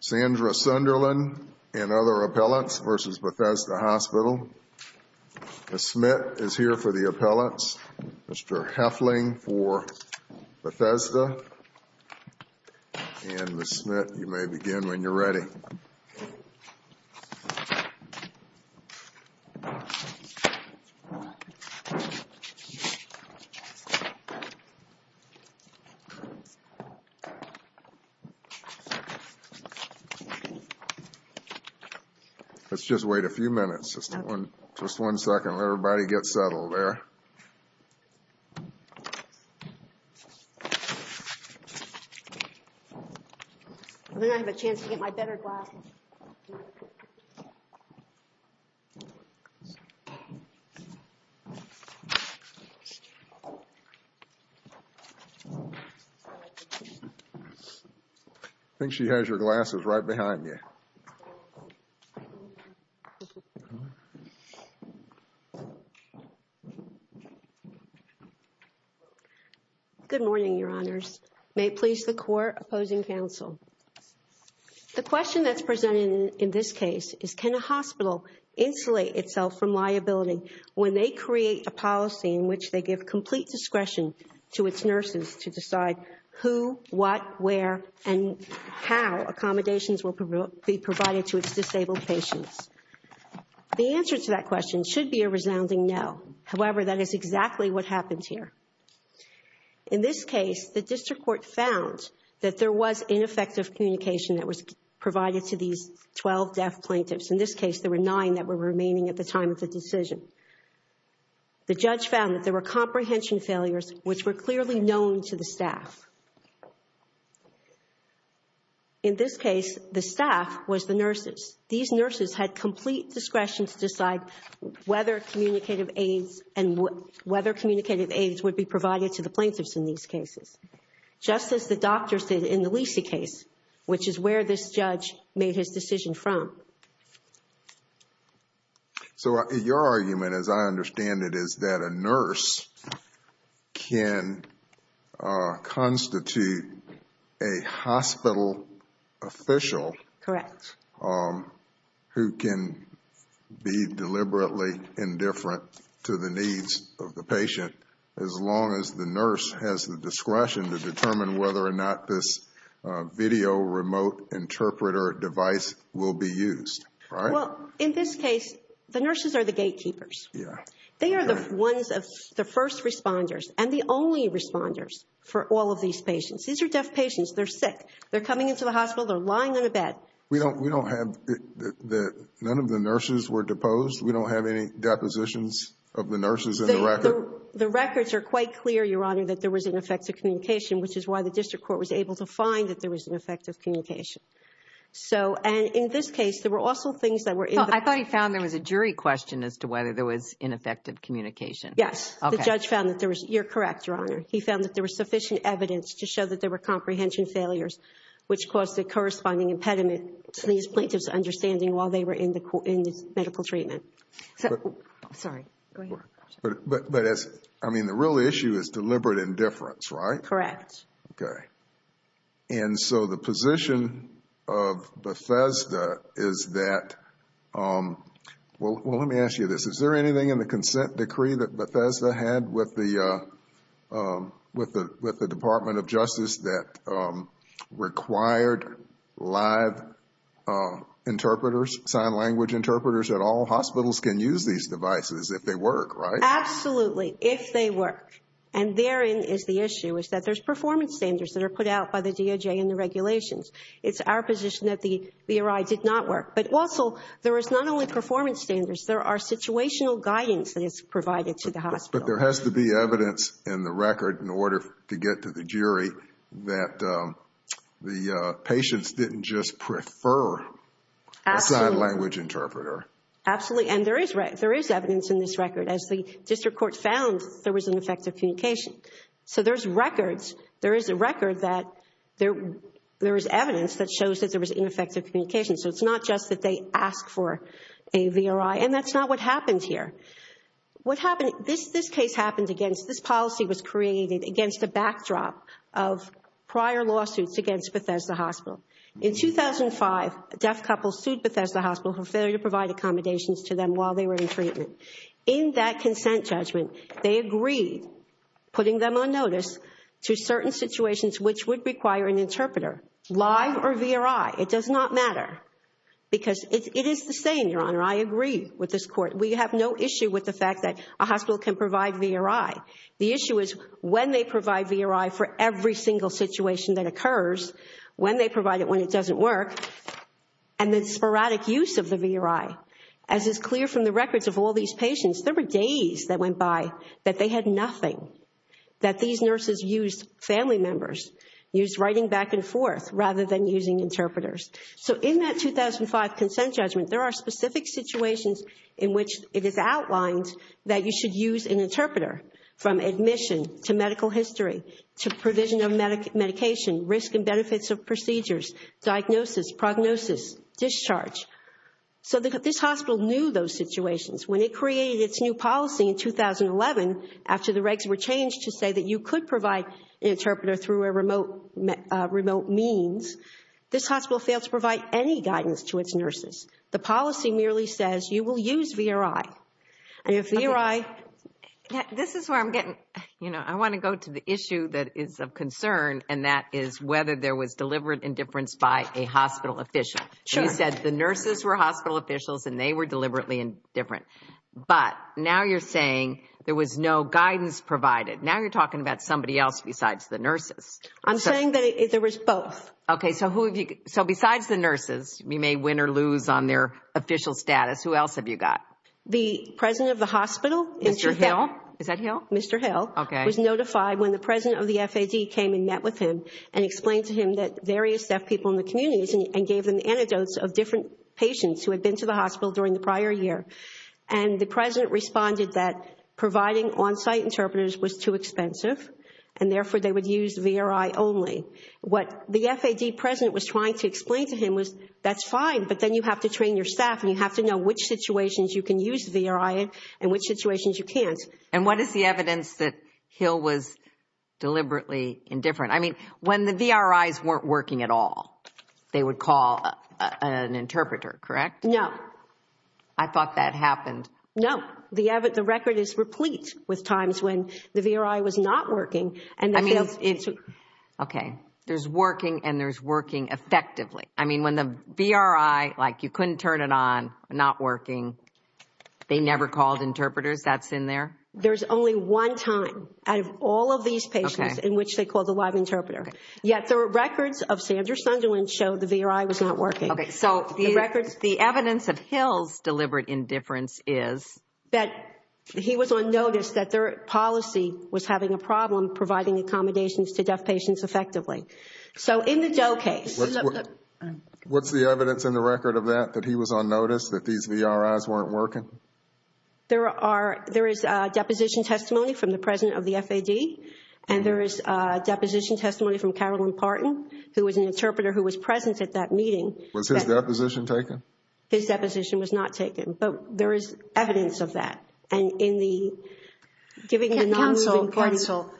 Sandra Sunderland and other appellants versus Bethesda Hospital. Ms. Smit is here for the appellants. Mr. Heffling for Bethesda. And Ms. Smit, you may begin when you're ready. Let's just wait a few minutes. Just one second. Let everybody get settled there. I think I have a chance to get my better glasses. I think she has your glasses right behind you. Good morning, Your Honors. May it please the Court opposing counsel. The question that's presented in this case is, can a hospital insulate itself from liability when they create a policy in which they give complete discretion to its nurses to decide who, what, where, and how accommodations will be provided to its disabled patients? The answer to that question should be a resounding no. However, that is exactly what happened here. In this case, the district court found that there was ineffective communication that was provided to these 12 deaf plaintiffs. In this case, there were nine that were remaining at the time of the decision. The judge found that there were comprehension failures, which were clearly known to the staff. In this case, the staff was the nurses. These nurses had complete discretion to decide whether communicative aids and whether communicative aids would be provided to the plaintiffs in these cases. Just as the doctors did in the Lisi case, which is where this judge made his decision from. So your argument, as I understand it, is that a nurse can constitute a hospital official. Correct. Who can be deliberately indifferent to the needs of the patient as long as the nurse has the discretion to determine whether or not this video remote interpreter device will be used, right? Well, in this case, the nurses are the gatekeepers. Yeah. They are the ones of the first responders and the only responders for all of these patients. These are deaf patients. They're sick. They're coming into the hospital. They're lying on a bed. We don't have that none of the nurses were deposed? We don't have any depositions of the nurses in the record? The records are quite clear, Your Honor, that there was ineffective communication, which is why the district court was able to find that there was ineffective communication. And in this case, there were also things that were in the record. I thought he found there was a jury question as to whether there was ineffective communication. Yes. The judge found that there was. You're correct, Your Honor. He found that there was sufficient evidence to show that there were comprehension failures, which caused a corresponding impediment to these plaintiffs' understanding while they were in the medical treatment. Sorry. Go ahead. But, I mean, the real issue is deliberate indifference, right? Correct. Okay. And so the position of Bethesda is that, well, let me ask you this. Is there anything in the consent decree that Bethesda had with the Department of Justice that required live interpreters, sign language interpreters at all? Hospitals can use these devices if they work, right? Absolutely, if they work. And therein is the issue, is that there's performance standards that are put out by the DOJ and the regulations. It's our position that the ERI did not work. But also, there is not only performance standards. There are situational guidance that is provided to the hospital. But there has to be evidence in the record in order to get to the jury that the patients didn't just prefer a sign language interpreter. Absolutely. And there is evidence in this record. As the district court found, there was ineffective communication. So there's records. There is a record that there is evidence that shows that there was ineffective communication. So it's not just that they asked for a VRI. And that's not what happened here. What happened, this case happened against, this policy was created against a backdrop of prior lawsuits against Bethesda Hospital. In 2005, a deaf couple sued Bethesda Hospital for failure to provide accommodations to them while they were in treatment. In that consent judgment, they agreed, putting them on notice, to certain situations which would require an interpreter, live or VRI. It does not matter. Because it is the same, Your Honor. I agree with this court. We have no issue with the fact that a hospital can provide VRI. The issue is when they provide VRI for every single situation that occurs, when they provide it when it doesn't work, and the sporadic use of the VRI. As is clear from the records of all these patients, there were days that went by that they had nothing. That these nurses used family members, used writing back and forth, rather than using interpreters. So in that 2005 consent judgment, there are specific situations in which it is outlined that you should use an interpreter. From admission, to medical history, to provision of medication, risk and benefits of procedures, diagnosis, prognosis, discharge. So this hospital knew those situations. When it created its new policy in 2011, after the regs were changed to say that you could provide an interpreter through a remote means, this hospital failed to provide any guidance to its nurses. The policy merely says you will use VRI. And if VRI... This is where I'm getting... You know, I want to go to the issue that is of concern, and that is whether there was deliberate indifference by a hospital official. Sure. You said the nurses were hospital officials and they were deliberately indifferent. But now you're saying there was no guidance provided. Now you're talking about somebody else besides the nurses. I'm saying that there was both. Okay. So besides the nurses, you may win or lose on their official status, who else have you got? The president of the hospital... Mr. Hill? Is that Hill? Mr. Hill. Okay. The president was notified when the president of the FAD came and met with him and explained to him that various deaf people in the communities and gave them antidotes of different patients who had been to the hospital during the prior year. And the president responded that providing on-site interpreters was too expensive, and therefore they would use VRI only. What the FAD president was trying to explain to him was that's fine, but then you have to train your staff and you have to know which situations you can use VRI and which situations you can't. And what is the evidence that Hill was deliberately indifferent? I mean, when the VRIs weren't working at all, they would call an interpreter, correct? No. I thought that happened. No. The record is replete with times when the VRI was not working. Okay. There's working and there's working effectively. I mean, when the VRI, like you couldn't turn it on, not working, they never called interpreters, that's in there? There's only one time out of all of these patients in which they called a live interpreter. Yet the records of Sandra Sunderland show the VRI was not working. Okay, so the evidence that Hill's deliberate indifference is? That he was on notice that their policy was having a problem providing accommodations to deaf patients effectively. So in the Doe case. What's the evidence in the record of that, that he was on notice that these VRIs weren't working? There is deposition testimony from the president of the FAD. And there is deposition testimony from Carolyn Parton, who was an interpreter who was present at that meeting. Was his deposition taken? His deposition was not taken. But there is evidence of that. And in the giving the non-moving party. Counsel,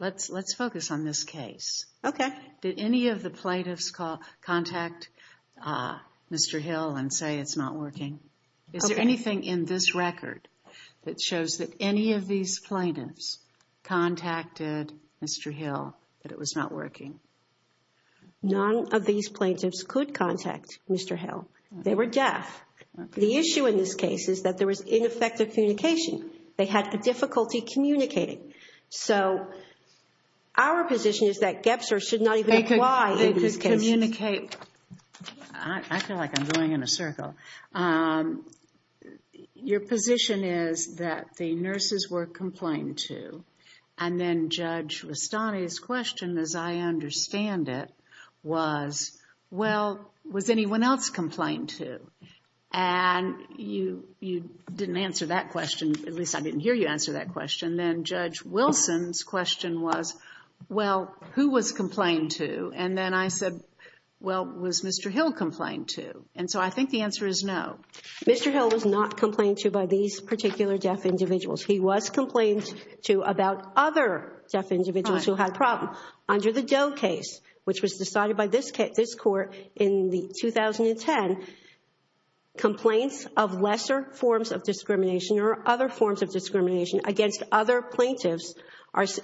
let's focus on this case. Okay. Did any of the plaintiffs contact Mr. Hill and say it's not working? Is there anything in this record that shows that any of these plaintiffs contacted Mr. Hill that it was not working? None of these plaintiffs could contact Mr. Hill. They were deaf. The issue in this case is that there was ineffective communication. They had difficulty communicating. So our position is that Gebser should not even apply in this case. They could communicate. I feel like I'm going in a circle. Your position is that the nurses were complained to. And then Judge Rustani's question, as I understand it, was, well, was anyone else complained to? And you didn't answer that question. At least I didn't hear you answer that question. And then Judge Wilson's question was, well, who was complained to? And then I said, well, was Mr. Hill complained to? And so I think the answer is no. Mr. Hill was not complained to by these particular deaf individuals. He was complained to about other deaf individuals who had a problem. Now, under the Doe case, which was decided by this court in 2010, complaints of lesser forms of discrimination or other forms of discrimination against other plaintiffs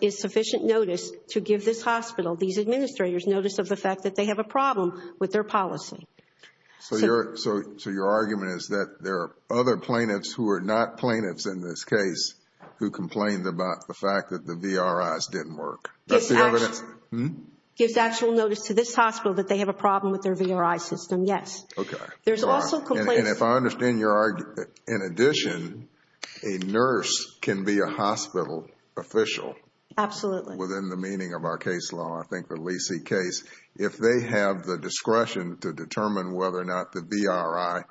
is sufficient notice to give this hospital, these administrators, notice of the fact that they have a problem with their policy. So your argument is that there are other plaintiffs who are not plaintiffs in this case who complained about the fact that the VRIs didn't work. That's the evidence. Gives actual notice to this hospital that they have a problem with their VRI system, yes. Okay. There's also complaints. And if I understand your argument, in addition, a nurse can be a hospital official. Absolutely. Within the meaning of our case law, I think the Lee C. case. If they have the discretion to determine whether or not the VRI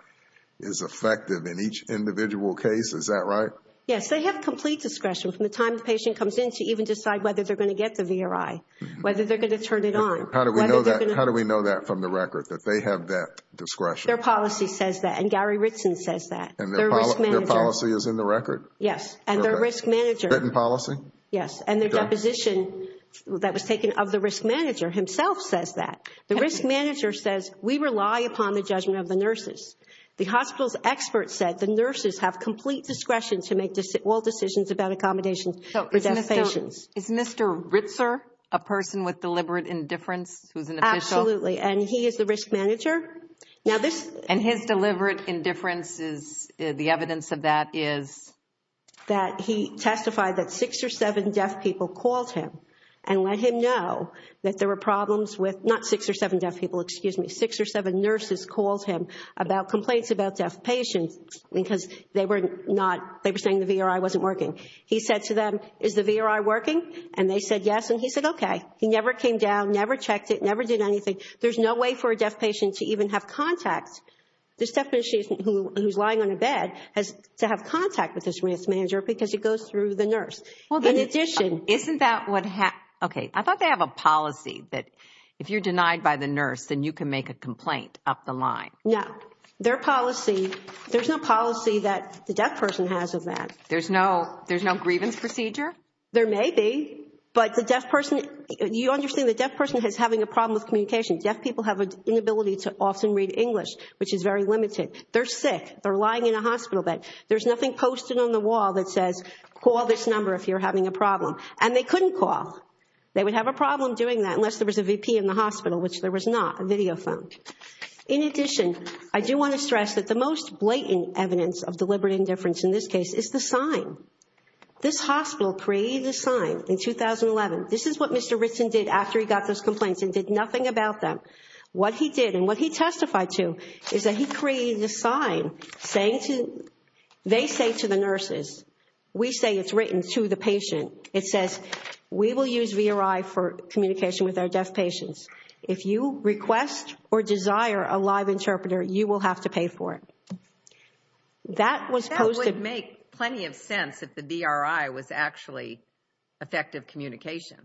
is effective in each individual case, is that right? Yes. They have complete discretion from the time the patient comes in to even decide whether they're going to get the VRI, whether they're going to turn it on. How do we know that from the record, that they have that discretion? Their policy says that, and Gary Ritson says that. And their policy is in the record? Yes. And their risk manager. Written policy? Yes. And their deposition that was taken of the risk manager himself says that. The risk manager says, we rely upon the judgment of the nurses. The hospital's expert said the nurses have complete discretion to make all decisions about accommodations for their patients. Is Mr. Ritzer a person with deliberate indifference who's an official? Absolutely. And he is the risk manager. And his deliberate indifference, the evidence of that is? That he testified that six or seven deaf people called him and let him know that there were problems with, not six or seven deaf people, excuse me, six or seven nurses called him about complaints about deaf patients because they were saying the VRI wasn't working. He said to them, is the VRI working? And they said, yes. And he said, okay. He never came down, never checked it, never did anything. There's no way for a deaf patient to even have contact. This deaf patient who's lying on a bed has to have contact with this risk manager because it goes through the nurse. Isn't that what happened? Okay. I thought they have a policy that if you're denied by the nurse, then you can make a complaint up the line. No. Their policy, there's no policy that the deaf person has of that. There's no grievance procedure? There may be. But the deaf person, you understand the deaf person is having a problem with communication. Deaf people have an inability to often read English, which is very limited. They're sick. They're lying in a hospital bed. There's nothing posted on the wall that says, call this number if you're having a problem. And they couldn't call. They would have a problem doing that unless there was a VP in the hospital, which there was not, a video phone. In addition, I do want to stress that the most blatant evidence of deliberate indifference in this case is the sign. This hospital created this sign in 2011. This is what Mr. Ritson did after he got those complaints and did nothing about them. What he did and what he testified to is that he created this sign saying to, they say to the nurses, we say it's written to the patient. It says, we will use VRI for communication with our deaf patients. If you request or desire a live interpreter, you will have to pay for it. That was posted. That would make plenty of sense if the VRI was actually effective communication,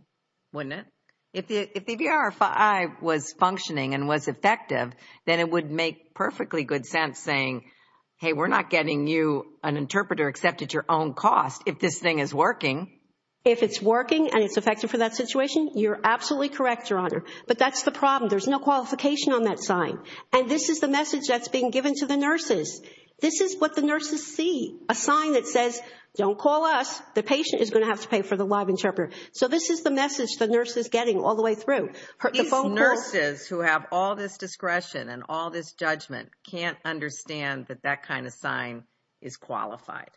wouldn't it? If the VRI was functioning and was effective, then it would make perfectly good sense saying, hey, we're not getting you, an interpreter, except at your own cost if this thing is working. If it's working and it's effective for that situation, you're absolutely correct, Your Honor. But that's the problem. There's no qualification on that sign. And this is the message that's being given to the nurses. This is what the nurses see, a sign that says, don't call us. The patient is going to have to pay for the live interpreter. So this is the message the nurse is getting all the way through. These nurses who have all this discretion and all this judgment can't understand that that kind of sign is qualified.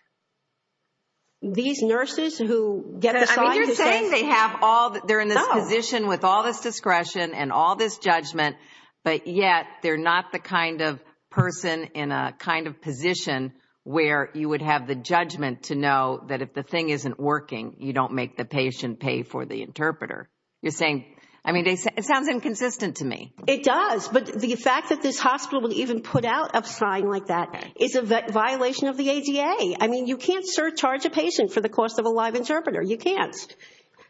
These nurses who get the sign to say no. They're in this position with all this discretion and all this judgment, but yet they're not the kind of person in a kind of position where you would have the judgment to know that if the thing isn't working, you don't make the patient pay for the interpreter. You're saying, I mean, it sounds inconsistent to me. It does. But the fact that this hospital would even put out a sign like that is a violation of the ADA. I mean, you can't surcharge a patient for the cost of a live interpreter. You can't.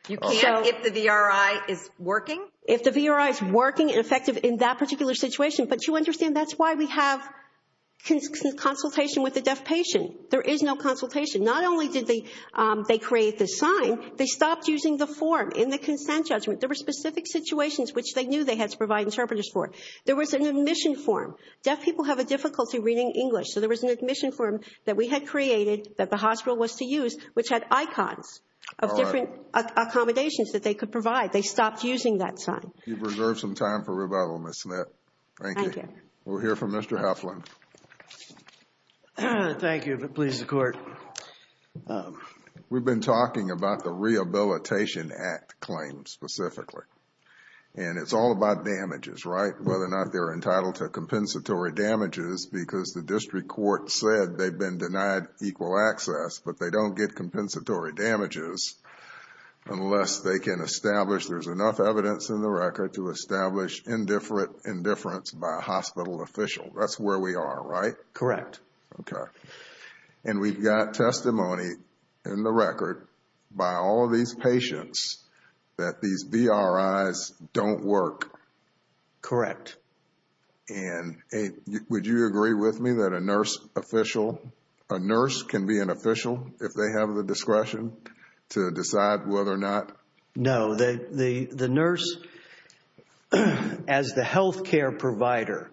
You can't if the VRI is working? If the VRI is working and effective in that particular situation. But you understand that's why we have consultation with the deaf patient. There is no consultation. Not only did they create this sign, they stopped using the form in the consent judgment. There were specific situations which they knew they had to provide interpreters for. There was an admission form. Deaf people have a difficulty reading English, so there was an admission form that we had created that the hospital was to use, which had icons of different accommodations that they could provide. They stopped using that sign. You've reserved some time for revival, Ms. Smith. Thank you. Thank you. We'll hear from Mr. Halfland. Thank you. Please, the Court. We've been talking about the Rehabilitation Act claims specifically. And it's all about damages, right? Whether or not they're entitled to compensatory damages because the district court said they've been denied equal access, but they don't get compensatory damages unless they can establish there's enough evidence in the record to establish indifference by a hospital official. That's where we are, right? Correct. Okay. And we've got testimony in the record by all of these patients that these VRIs don't work. Correct. And would you agree with me that a nurse official, a nurse can be an official if they have the discretion to decide whether or not? No. The nurse, as the healthcare provider,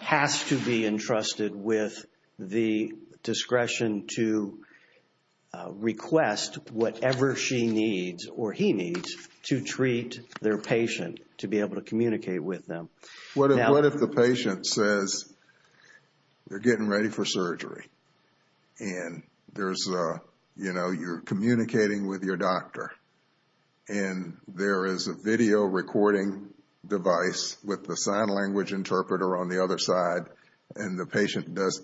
has to be entrusted with the discretion to request whatever she needs or he needs to treat their patient to be able to communicate with them. What if the patient says they're getting ready for surgery and you're communicating with your doctor and there is a video recording device with the sign language interpreter on the other side and the patient does,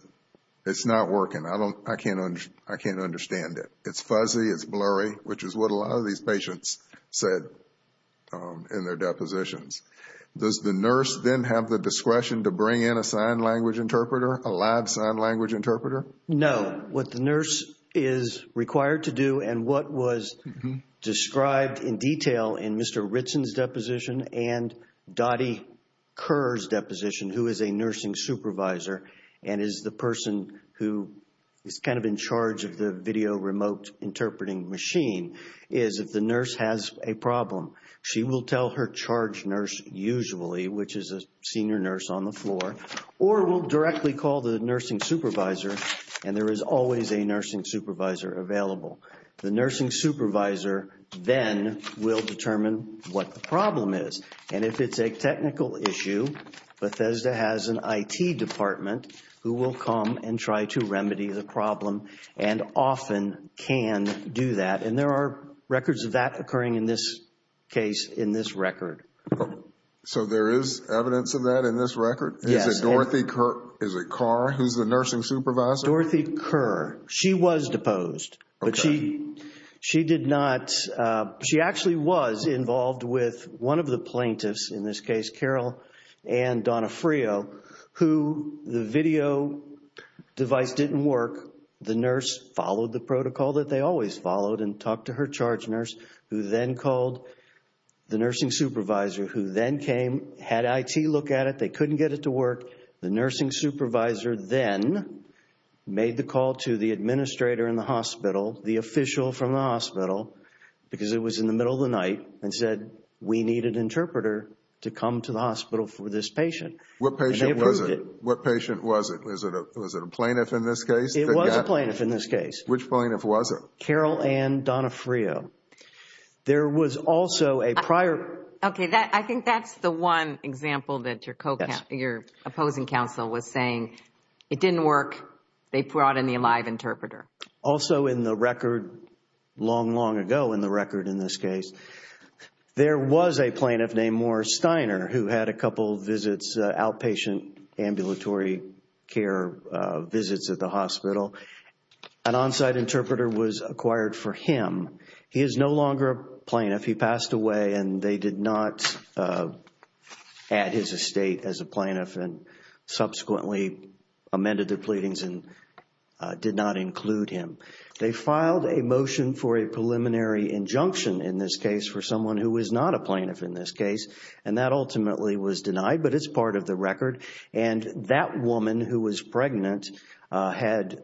it's not working. I can't understand it. It's fuzzy, it's blurry, which is what a lot of these patients said in their depositions. Does the nurse then have the discretion to bring in a sign language interpreter, a lab sign language interpreter? No. What the nurse is required to do and what was described in detail in Mr. Ritson's deposition and Dottie Kerr's deposition, who is a nursing supervisor and is the person who is kind of in charge of the video remote interpreting machine, is if the nurse has a problem, she will tell her charge nurse usually, which is a senior nurse on the floor, or will directly call the nursing supervisor and there is always a nursing supervisor available. The nursing supervisor then will determine what the problem is. And if it's a technical issue, Bethesda has an IT department who will come and try to remedy the problem and often can do that. And there are records of that occurring in this case in this record. So there is evidence of that in this record? Yes. Is it Dorothy Kerr? Is it Kerr? Who is the nursing supervisor? Dorothy Kerr. She was deposed. Okay. But she did not, she actually was involved with one of the plaintiffs, in this case Carol Ann Donofrio, who the video device didn't work. The nurse followed the protocol that they always followed and talked to her charge nurse who then called the nursing supervisor who then came, had IT look at it, they couldn't get it to work. The nursing supervisor then made the call to the administrator in the hospital, the official from the hospital, because it was in the middle of the night, and said we need an interpreter to come to the hospital for this patient. What patient was it? Was it a plaintiff in this case? It was a plaintiff in this case. Which plaintiff was it? Carol Ann Donofrio. There was also a prior. Okay. I think that's the one example that your opposing counsel was saying, it didn't work, they brought in the live interpreter. Also in the record, long, long ago in the record in this case, there was a plaintiff named Morris Steiner who had a couple visits, outpatient ambulatory care visits at the hospital. An on-site interpreter was acquired for him. He is no longer a plaintiff. He passed away and they did not add his estate as a plaintiff and subsequently amended the pleadings and did not include him. They filed a motion for a preliminary injunction in this case for someone who was not a plaintiff in this case, and that ultimately was denied, but it's part of the record. That woman who was pregnant had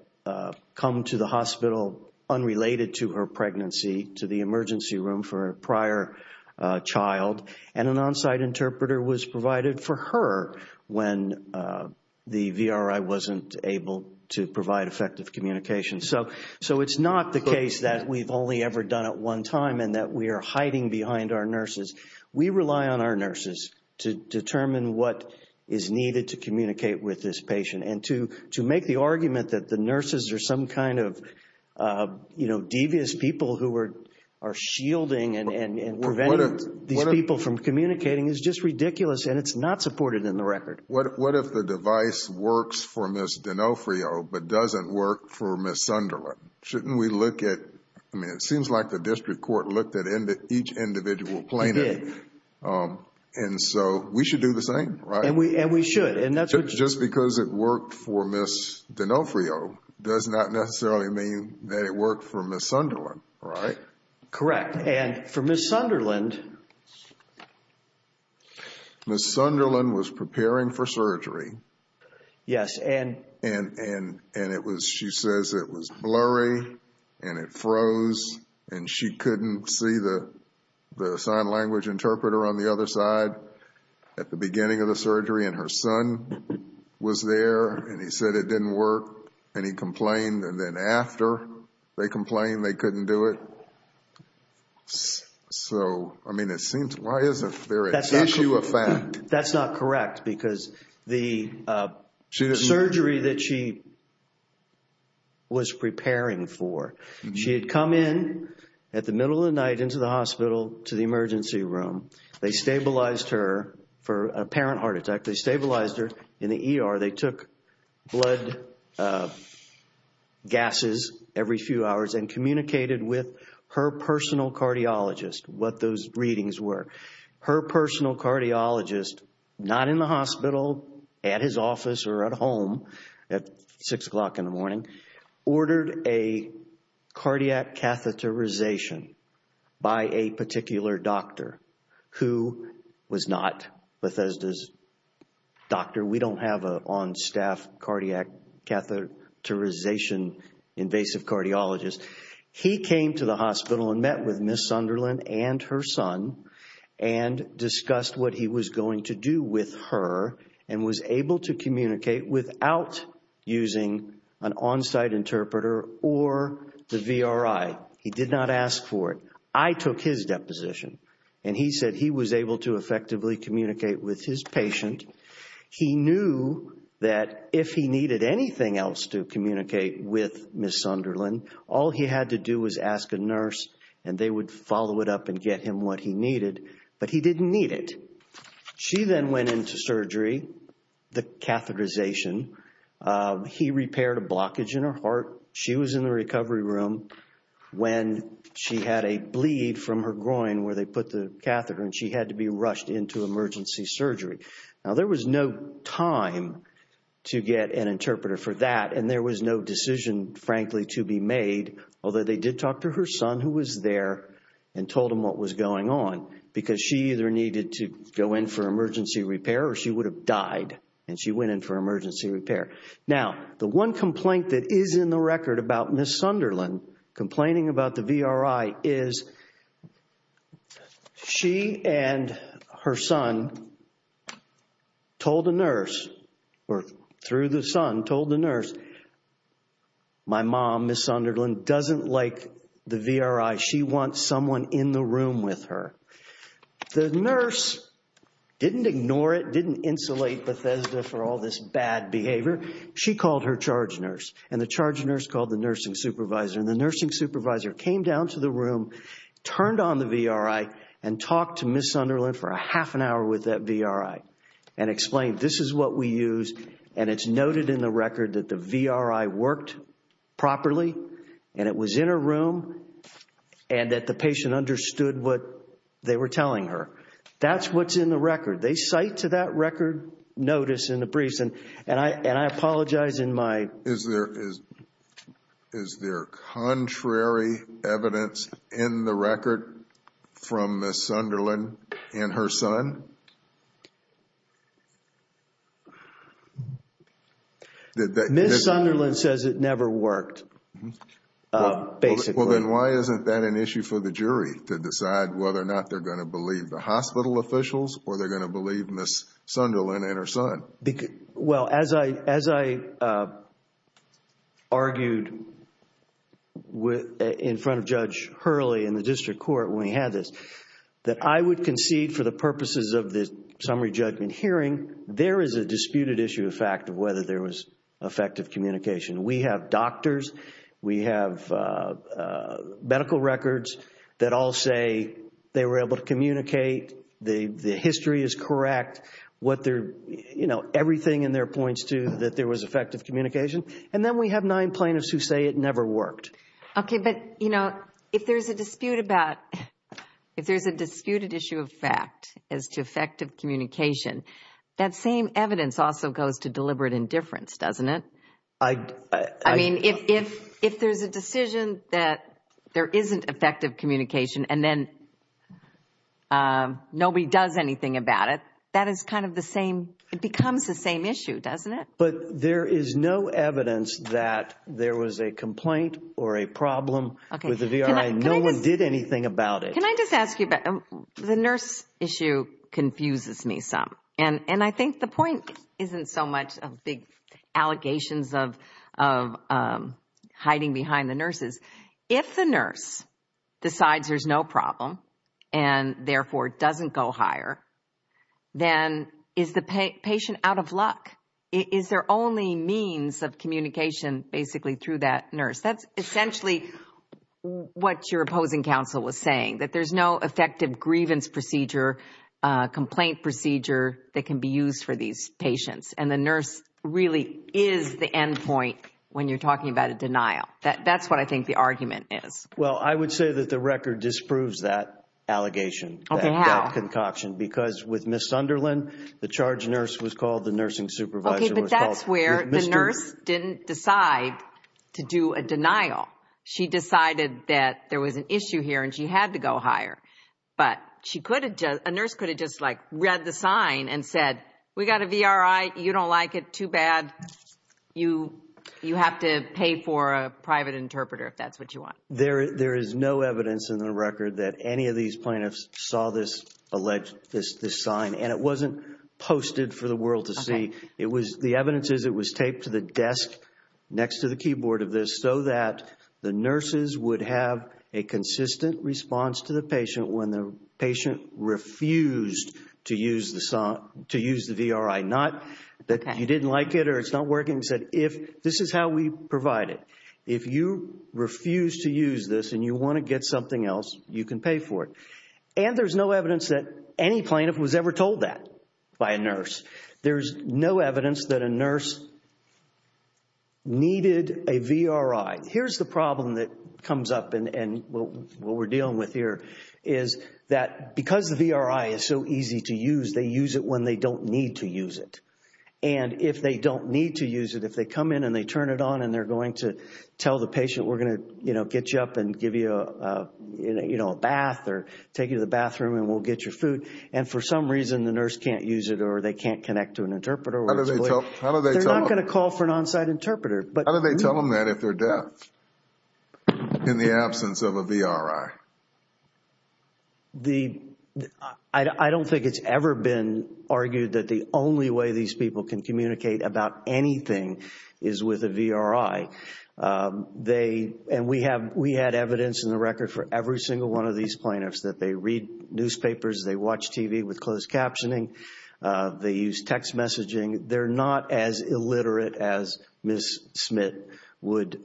come to the hospital unrelated to her pregnancy to the emergency room for a prior child, and an on-site interpreter was provided for her when the VRI wasn't able to provide effective communication. So it's not the case that we've only ever done it one time and that we are hiding behind our nurses. We rely on our nurses to determine what is needed to communicate with this patient. And to make the argument that the nurses are some kind of, you know, devious people who are shielding and preventing these people from communicating is just ridiculous and it's not supported in the record. What if the device works for Ms. D'Onofrio but doesn't work for Ms. Sunderland? Shouldn't we look at, I mean, it seems like the district court looked at each individual plaintiff. It did. And so we should do the same, right? And we should. Just because it worked for Ms. D'Onofrio does not necessarily mean that it worked for Ms. Sunderland, right? Correct. And for Ms. Sunderland... Ms. Sunderland was preparing for surgery. Yes. And she says it was blurry and it froze and she couldn't see the sign language interpreter on the other side at the beginning of the surgery. And her son was there and he said it didn't work and he complained and then after they complained they couldn't do it. So, I mean, it seems, why is there a tissue effect? That's not correct because the surgery that she was preparing for, she had come in at the middle of the night into the hospital to the emergency room. They stabilized her for an apparent heart attack. They stabilized her in the ER. They took blood gases every few hours and communicated with her personal cardiologist what those readings were. Her personal cardiologist, not in the hospital, at his office or at home at 6 o'clock in the morning, ordered a cardiac catheterization by a particular doctor who was not Bethesda's doctor. We don't have an on-staff cardiac catheterization invasive cardiologist. He came to the hospital and met with Ms. Sunderland and her son and discussed what he was going to do with her and was able to communicate without using an on-site interpreter or the VRI. He did not ask for it. I took his deposition. And he said he was able to effectively communicate with his patient. He knew that if he needed anything else to communicate with Ms. Sunderland, all he had to do was ask a nurse and they would follow it up and get him what he needed. But he didn't need it. She then went into surgery, the catheterization. He repaired a blockage in her heart. She was in the recovery room when she had a bleed from her groin where they put the catheter, and she had to be rushed into emergency surgery. Now, there was no time to get an interpreter for that, and there was no decision, frankly, to be made, although they did talk to her son who was there and told him what was going on because she either needed to go in for emergency repair or she would have died and she went in for emergency repair. Now, the one complaint that is in the record about Ms. Sunderland complaining about the VRI is she and her son told the nurse or through the son told the nurse, my mom, Ms. Sunderland, doesn't like the VRI. She wants someone in the room with her. The nurse didn't ignore it, didn't insulate Bethesda for all this bad behavior. She called her charge nurse, and the charge nurse called the nursing supervisor, and the nursing supervisor came down to the room, turned on the VRI, and talked to Ms. Sunderland for a half an hour with that VRI and explained, this is what we use, and it's noted in the record that the VRI worked properly and it was in her room and that the patient understood what they were telling her. That's what's in the record. They cite to that record notice in the briefs, and I apologize in my... Ms. Sunderland says it never worked, basically. Well, then why isn't that an issue for the jury to decide whether or not they're going to believe the hospital officials or they're going to believe Ms. Sunderland and her son? Well, as I argued in front of Judge Hurley in the district court when we had this, that I would concede for the purposes of the summary judgment hearing, there is a disputed issue of fact of whether there was effective communication. We have doctors, we have medical records that all say they were able to communicate, the history is correct, everything in there points to that there was effective communication, and then we have nine plaintiffs who say it never worked. Okay, but if there's a disputed issue of fact as to effective communication, that same evidence also goes to deliberate indifference, doesn't it? I mean, if there's a decision that there isn't effective communication and then nobody does anything about it, that is kind of the same, it becomes the same issue, doesn't it? But there is no evidence that there was a complaint or a problem with the VRI. No one did anything about it. Can I just ask you about the nurse issue confuses me some, and I think the point isn't so much of big allegations of hiding behind the nurses. If the nurse decides there's no problem and therefore doesn't go higher, then is the patient out of luck? Is there only means of communication basically through that nurse? That's essentially what your opposing counsel was saying, that there's no effective grievance procedure, complaint procedure, that can be used for these patients, and the nurse really is the end point when you're talking about a denial. That's what I think the argument is. Well, I would say that the record disproves that allegation, that concoction. Okay, how? Because with Ms. Sunderland, the charge nurse was called, the nursing supervisor was called. That's where the nurse didn't decide to do a denial. She decided that there was an issue here and she had to go higher. But a nurse could have just, like, read the sign and said, we got a VRI, you don't like it, too bad, you have to pay for a private interpreter if that's what you want. There is no evidence in the record that any of these plaintiffs saw this sign, and it wasn't posted for the world to see. The evidence is it was taped to the desk next to the keyboard of this so that the nurses would have a consistent response to the patient when the patient refused to use the VRI, not that you didn't like it or it's not working, but this is how we provide it. If you refuse to use this and you want to get something else, you can pay for it. And there's no evidence that any plaintiff was ever told that by a nurse. There's no evidence that a nurse needed a VRI. Here's the problem that comes up, and what we're dealing with here, is that because the VRI is so easy to use, they use it when they don't need to use it. And if they don't need to use it, if they come in and they turn it on and they're going to tell the patient, we're going to get you up and give you a bath or take you to the bathroom and we'll get your food, and for some reason the nurse can't use it or they can't connect to an interpreter, they're not going to call for an on-site interpreter. How do they tell them that if they're deaf in the absence of a VRI? I don't think it's ever been argued that the only way these people can communicate about anything is with a VRI. And we had evidence in the record for every single one of these plaintiffs that they read newspapers, they watch TV with closed captioning, they use text messaging. They're not as illiterate as Ms. Smith would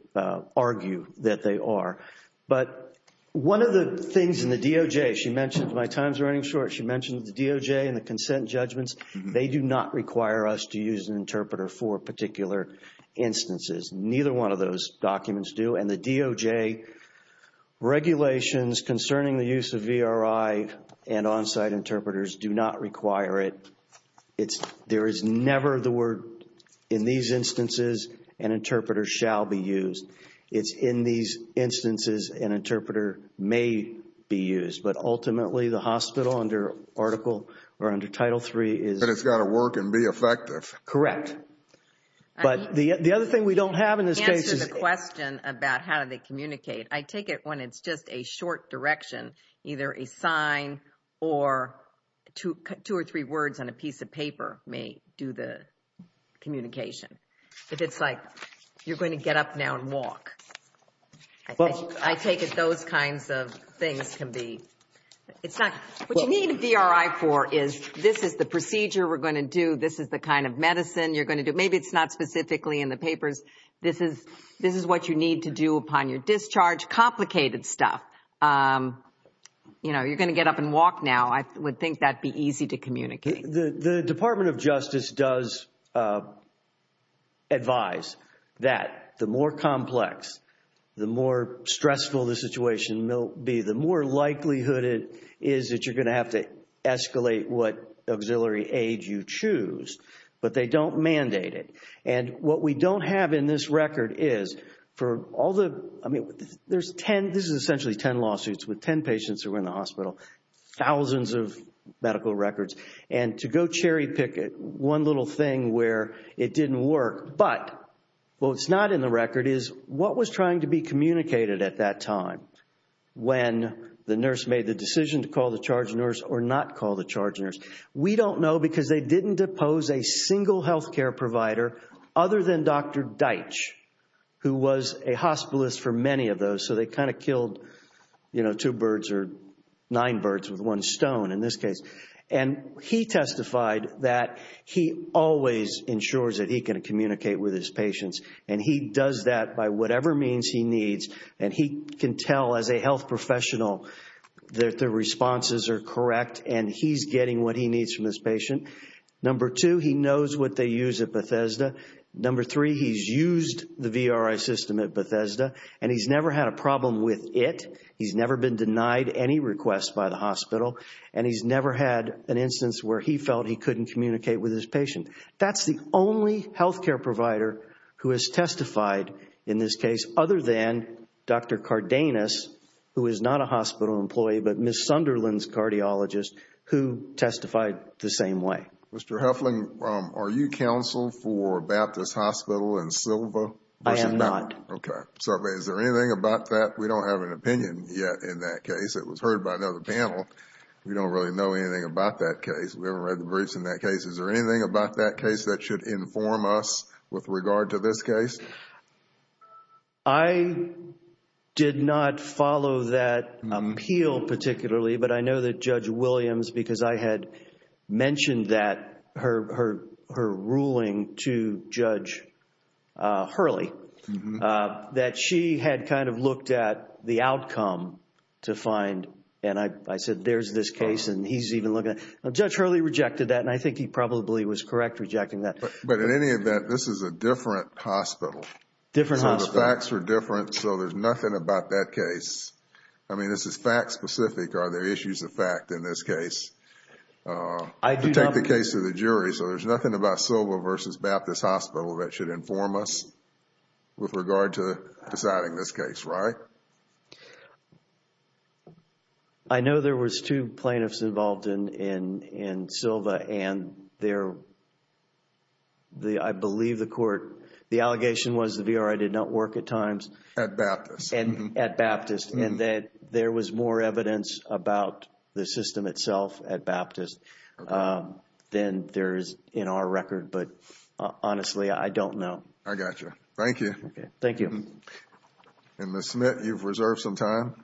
argue that they are. But one of the things in the DOJ, she mentioned, my time's running short, she mentioned the DOJ and the consent judgments. They do not require us to use an interpreter for particular instances. Neither one of those documents do. And the DOJ regulations concerning the use of VRI and on-site interpreters do not require it. There is never the word in these instances an interpreter shall be used. It's in these instances an interpreter may be used. But ultimately the hospital under Article or under Title III is... But it's got to work and be effective. Correct. But the other thing we don't have in this case is... To answer the question about how they communicate, I take it when it's just a short direction, either a sign or two or three words on a piece of paper may do the communication. If it's like, you're going to get up now and walk. I take it those kinds of things can be... What you need a VRI for is this is the procedure we're going to do, this is the kind of medicine you're going to do. Maybe it's not specifically in the papers. This is what you need to do upon your discharge. Complicated stuff. You're going to get up and walk now. I would think that would be easy to communicate. The Department of Justice does advise that the more complex, the more stressful the situation will be, the more likelihood it is that you're going to have to escalate what auxiliary aid you choose. But they don't mandate it. And what we don't have in this record is for all the... I mean, this is essentially 10 lawsuits with 10 patients who were in the hospital, thousands of medical records. And to go cherry pick it, one little thing where it didn't work. But what's not in the record is what was trying to be communicated at that time when the nurse made the decision to call the charge nurse or not call the charge nurse. We don't know because they didn't depose a single health care provider other than Dr. Deitch, who was a hospitalist for many of those. So they kind of killed two birds or nine birds with one stone in this case. And he testified that he always ensures that he can communicate with his patients. And he does that by whatever means he needs. And he can tell as a health professional that the responses are correct and he's getting what he needs from his patient. Number two, he knows what they use at Bethesda. Number three, he's used the VRI system at Bethesda. And he's never had a problem with it. He's never been denied any requests by the hospital. And he's never had an instance where he felt he couldn't communicate with his patient. That's the only health care provider who has testified in this case other than Dr. Cardenas, who is not a hospital employee, but Ms. Sunderland's cardiologist who testified the same way. Mr. Huffling, are you counsel for Baptist Hospital and Silva? I am not. Okay. Is there anything about that? We don't have an opinion yet in that case. It was heard by another panel. We don't really know anything about that case. We haven't read the briefs in that case. Is there anything about that case that should inform us with regard to this case? I did not follow that appeal particularly, but I know that Judge Williams, because I had mentioned that, her ruling to Judge Hurley, that she had kind of looked at the outcome to find and I said, there's this case and he's even looking at it. Judge Hurley rejected that and I think he probably was correct rejecting that. But in any event, this is a different hospital. Different hospital. The facts are different, so there's nothing about that case. I mean, this is fact specific. Are there issues of fact in this case? I do not. Take the case of the jury. So there's nothing about Silva versus Baptist Hospital that should inform us with regard to deciding this case, right? Yes, sir. I know there was two plaintiffs involved in Silva and I believe the court, the allegation was the VRI did not work at times. At Baptist. At Baptist. And that there was more evidence about the system itself at Baptist than there is in our record, but honestly, I don't know. I got you. Thank you. Thank you. Ms. Smith, you've reserved some time.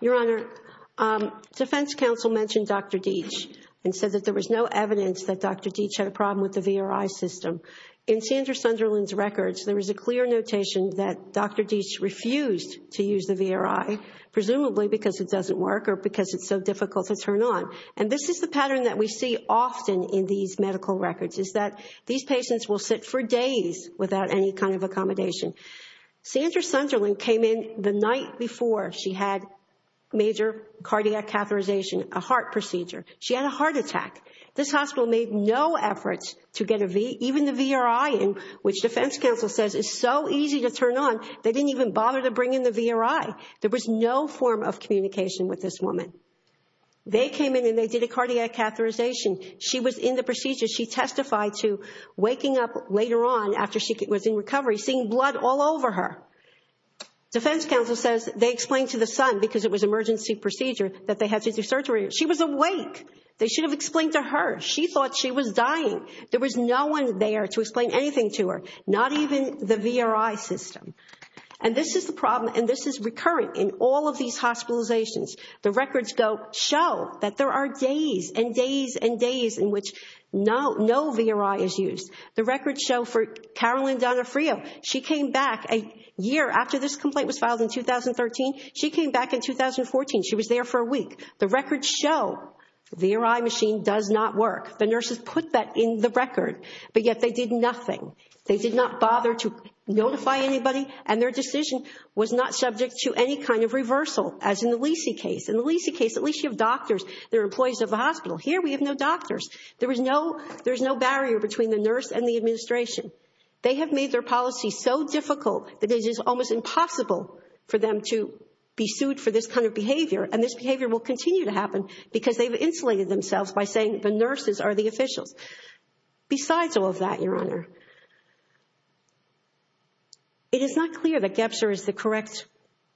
Your Honor, defense counsel mentioned Dr. Deitch and said that there was no evidence that Dr. Deitch had a problem with the VRI system. In Sandra Sunderland's records, there is a clear notation that Dr. Deitch refused to use the VRI, presumably because it doesn't work or because it's so difficult to turn on. And this is the pattern that we see often in these medical records, is that these patients will sit for days without any kind of accommodation. Sandra Sunderland came in the night before she had major cardiac catheterization, a heart procedure. She had a heart attack. This hospital made no efforts to get a V, even the VRI, which defense counsel says is so easy to turn on, they didn't even bother to bring in the VRI. There was no form of communication with this woman. They came in and they did a cardiac catheterization. She was in the procedure. She testified to waking up later on after she was in recovery, seeing blood all over her. Defense counsel says they explained to the son, because it was an emergency procedure, that they had to do surgery. She was awake. They should have explained to her. She thought she was dying. There was no one there to explain anything to her, not even the VRI system. And this is the problem, and this is recurrent in all of these hospitalizations. The records show that there are days and days and days in which no VRI is used. The records show for Carolyn Donofrio, she came back a year after this complaint was filed in 2013. She came back in 2014. She was there for a week. The records show the VRI machine does not work. The nurses put that in the record, but yet they did nothing. They did not bother to notify anybody, and their decision was not subject to any kind of reversal, as in the Lisey case. In the Lisey case, at least you have doctors that are employees of the hospital. Here we have no doctors. There is no barrier between the nurse and the administration. They have made their policy so difficult that it is almost impossible for them to be sued for this kind of behavior, and this behavior will continue to happen because they've insulated themselves by saying the nurses are the officials. Besides all of that, Your Honor, it is not clear that GEPSR is the correct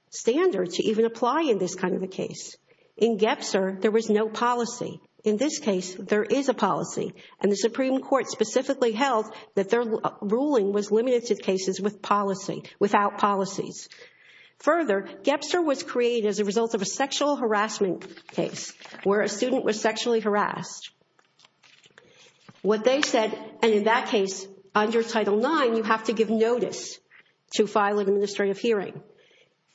standard to even apply in this kind of a case. In GEPSR, there was no policy. In this case, there is a policy, and the Supreme Court specifically held that their ruling was limited to cases with policy, without policies. Further, GEPSR was created as a result of a sexual harassment case where a student was sexually harassed. What they said, and in that case, under Title IX, you have to give notice to file an administrative hearing.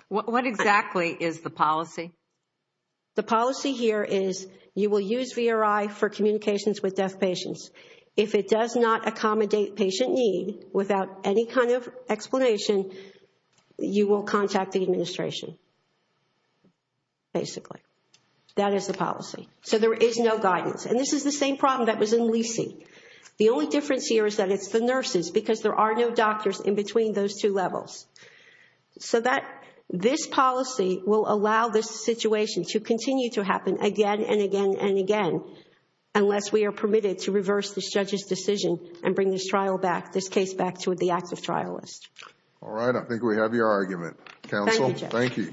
What exactly is the policy? The policy here is you will use VRI for communications with deaf patients. If it does not accommodate patient need without any kind of explanation, you will contact the administration, basically. That is the policy. There is no guidance. This is the same problem that was in Leasee. The only difference here is that it's the nurses because there are no doctors in between those two levels. This policy will allow this situation to continue to happen again and again and again, unless we are permitted to reverse this judge's decision and bring this case back to the active trial list. All right, I think we have your argument. Thank you.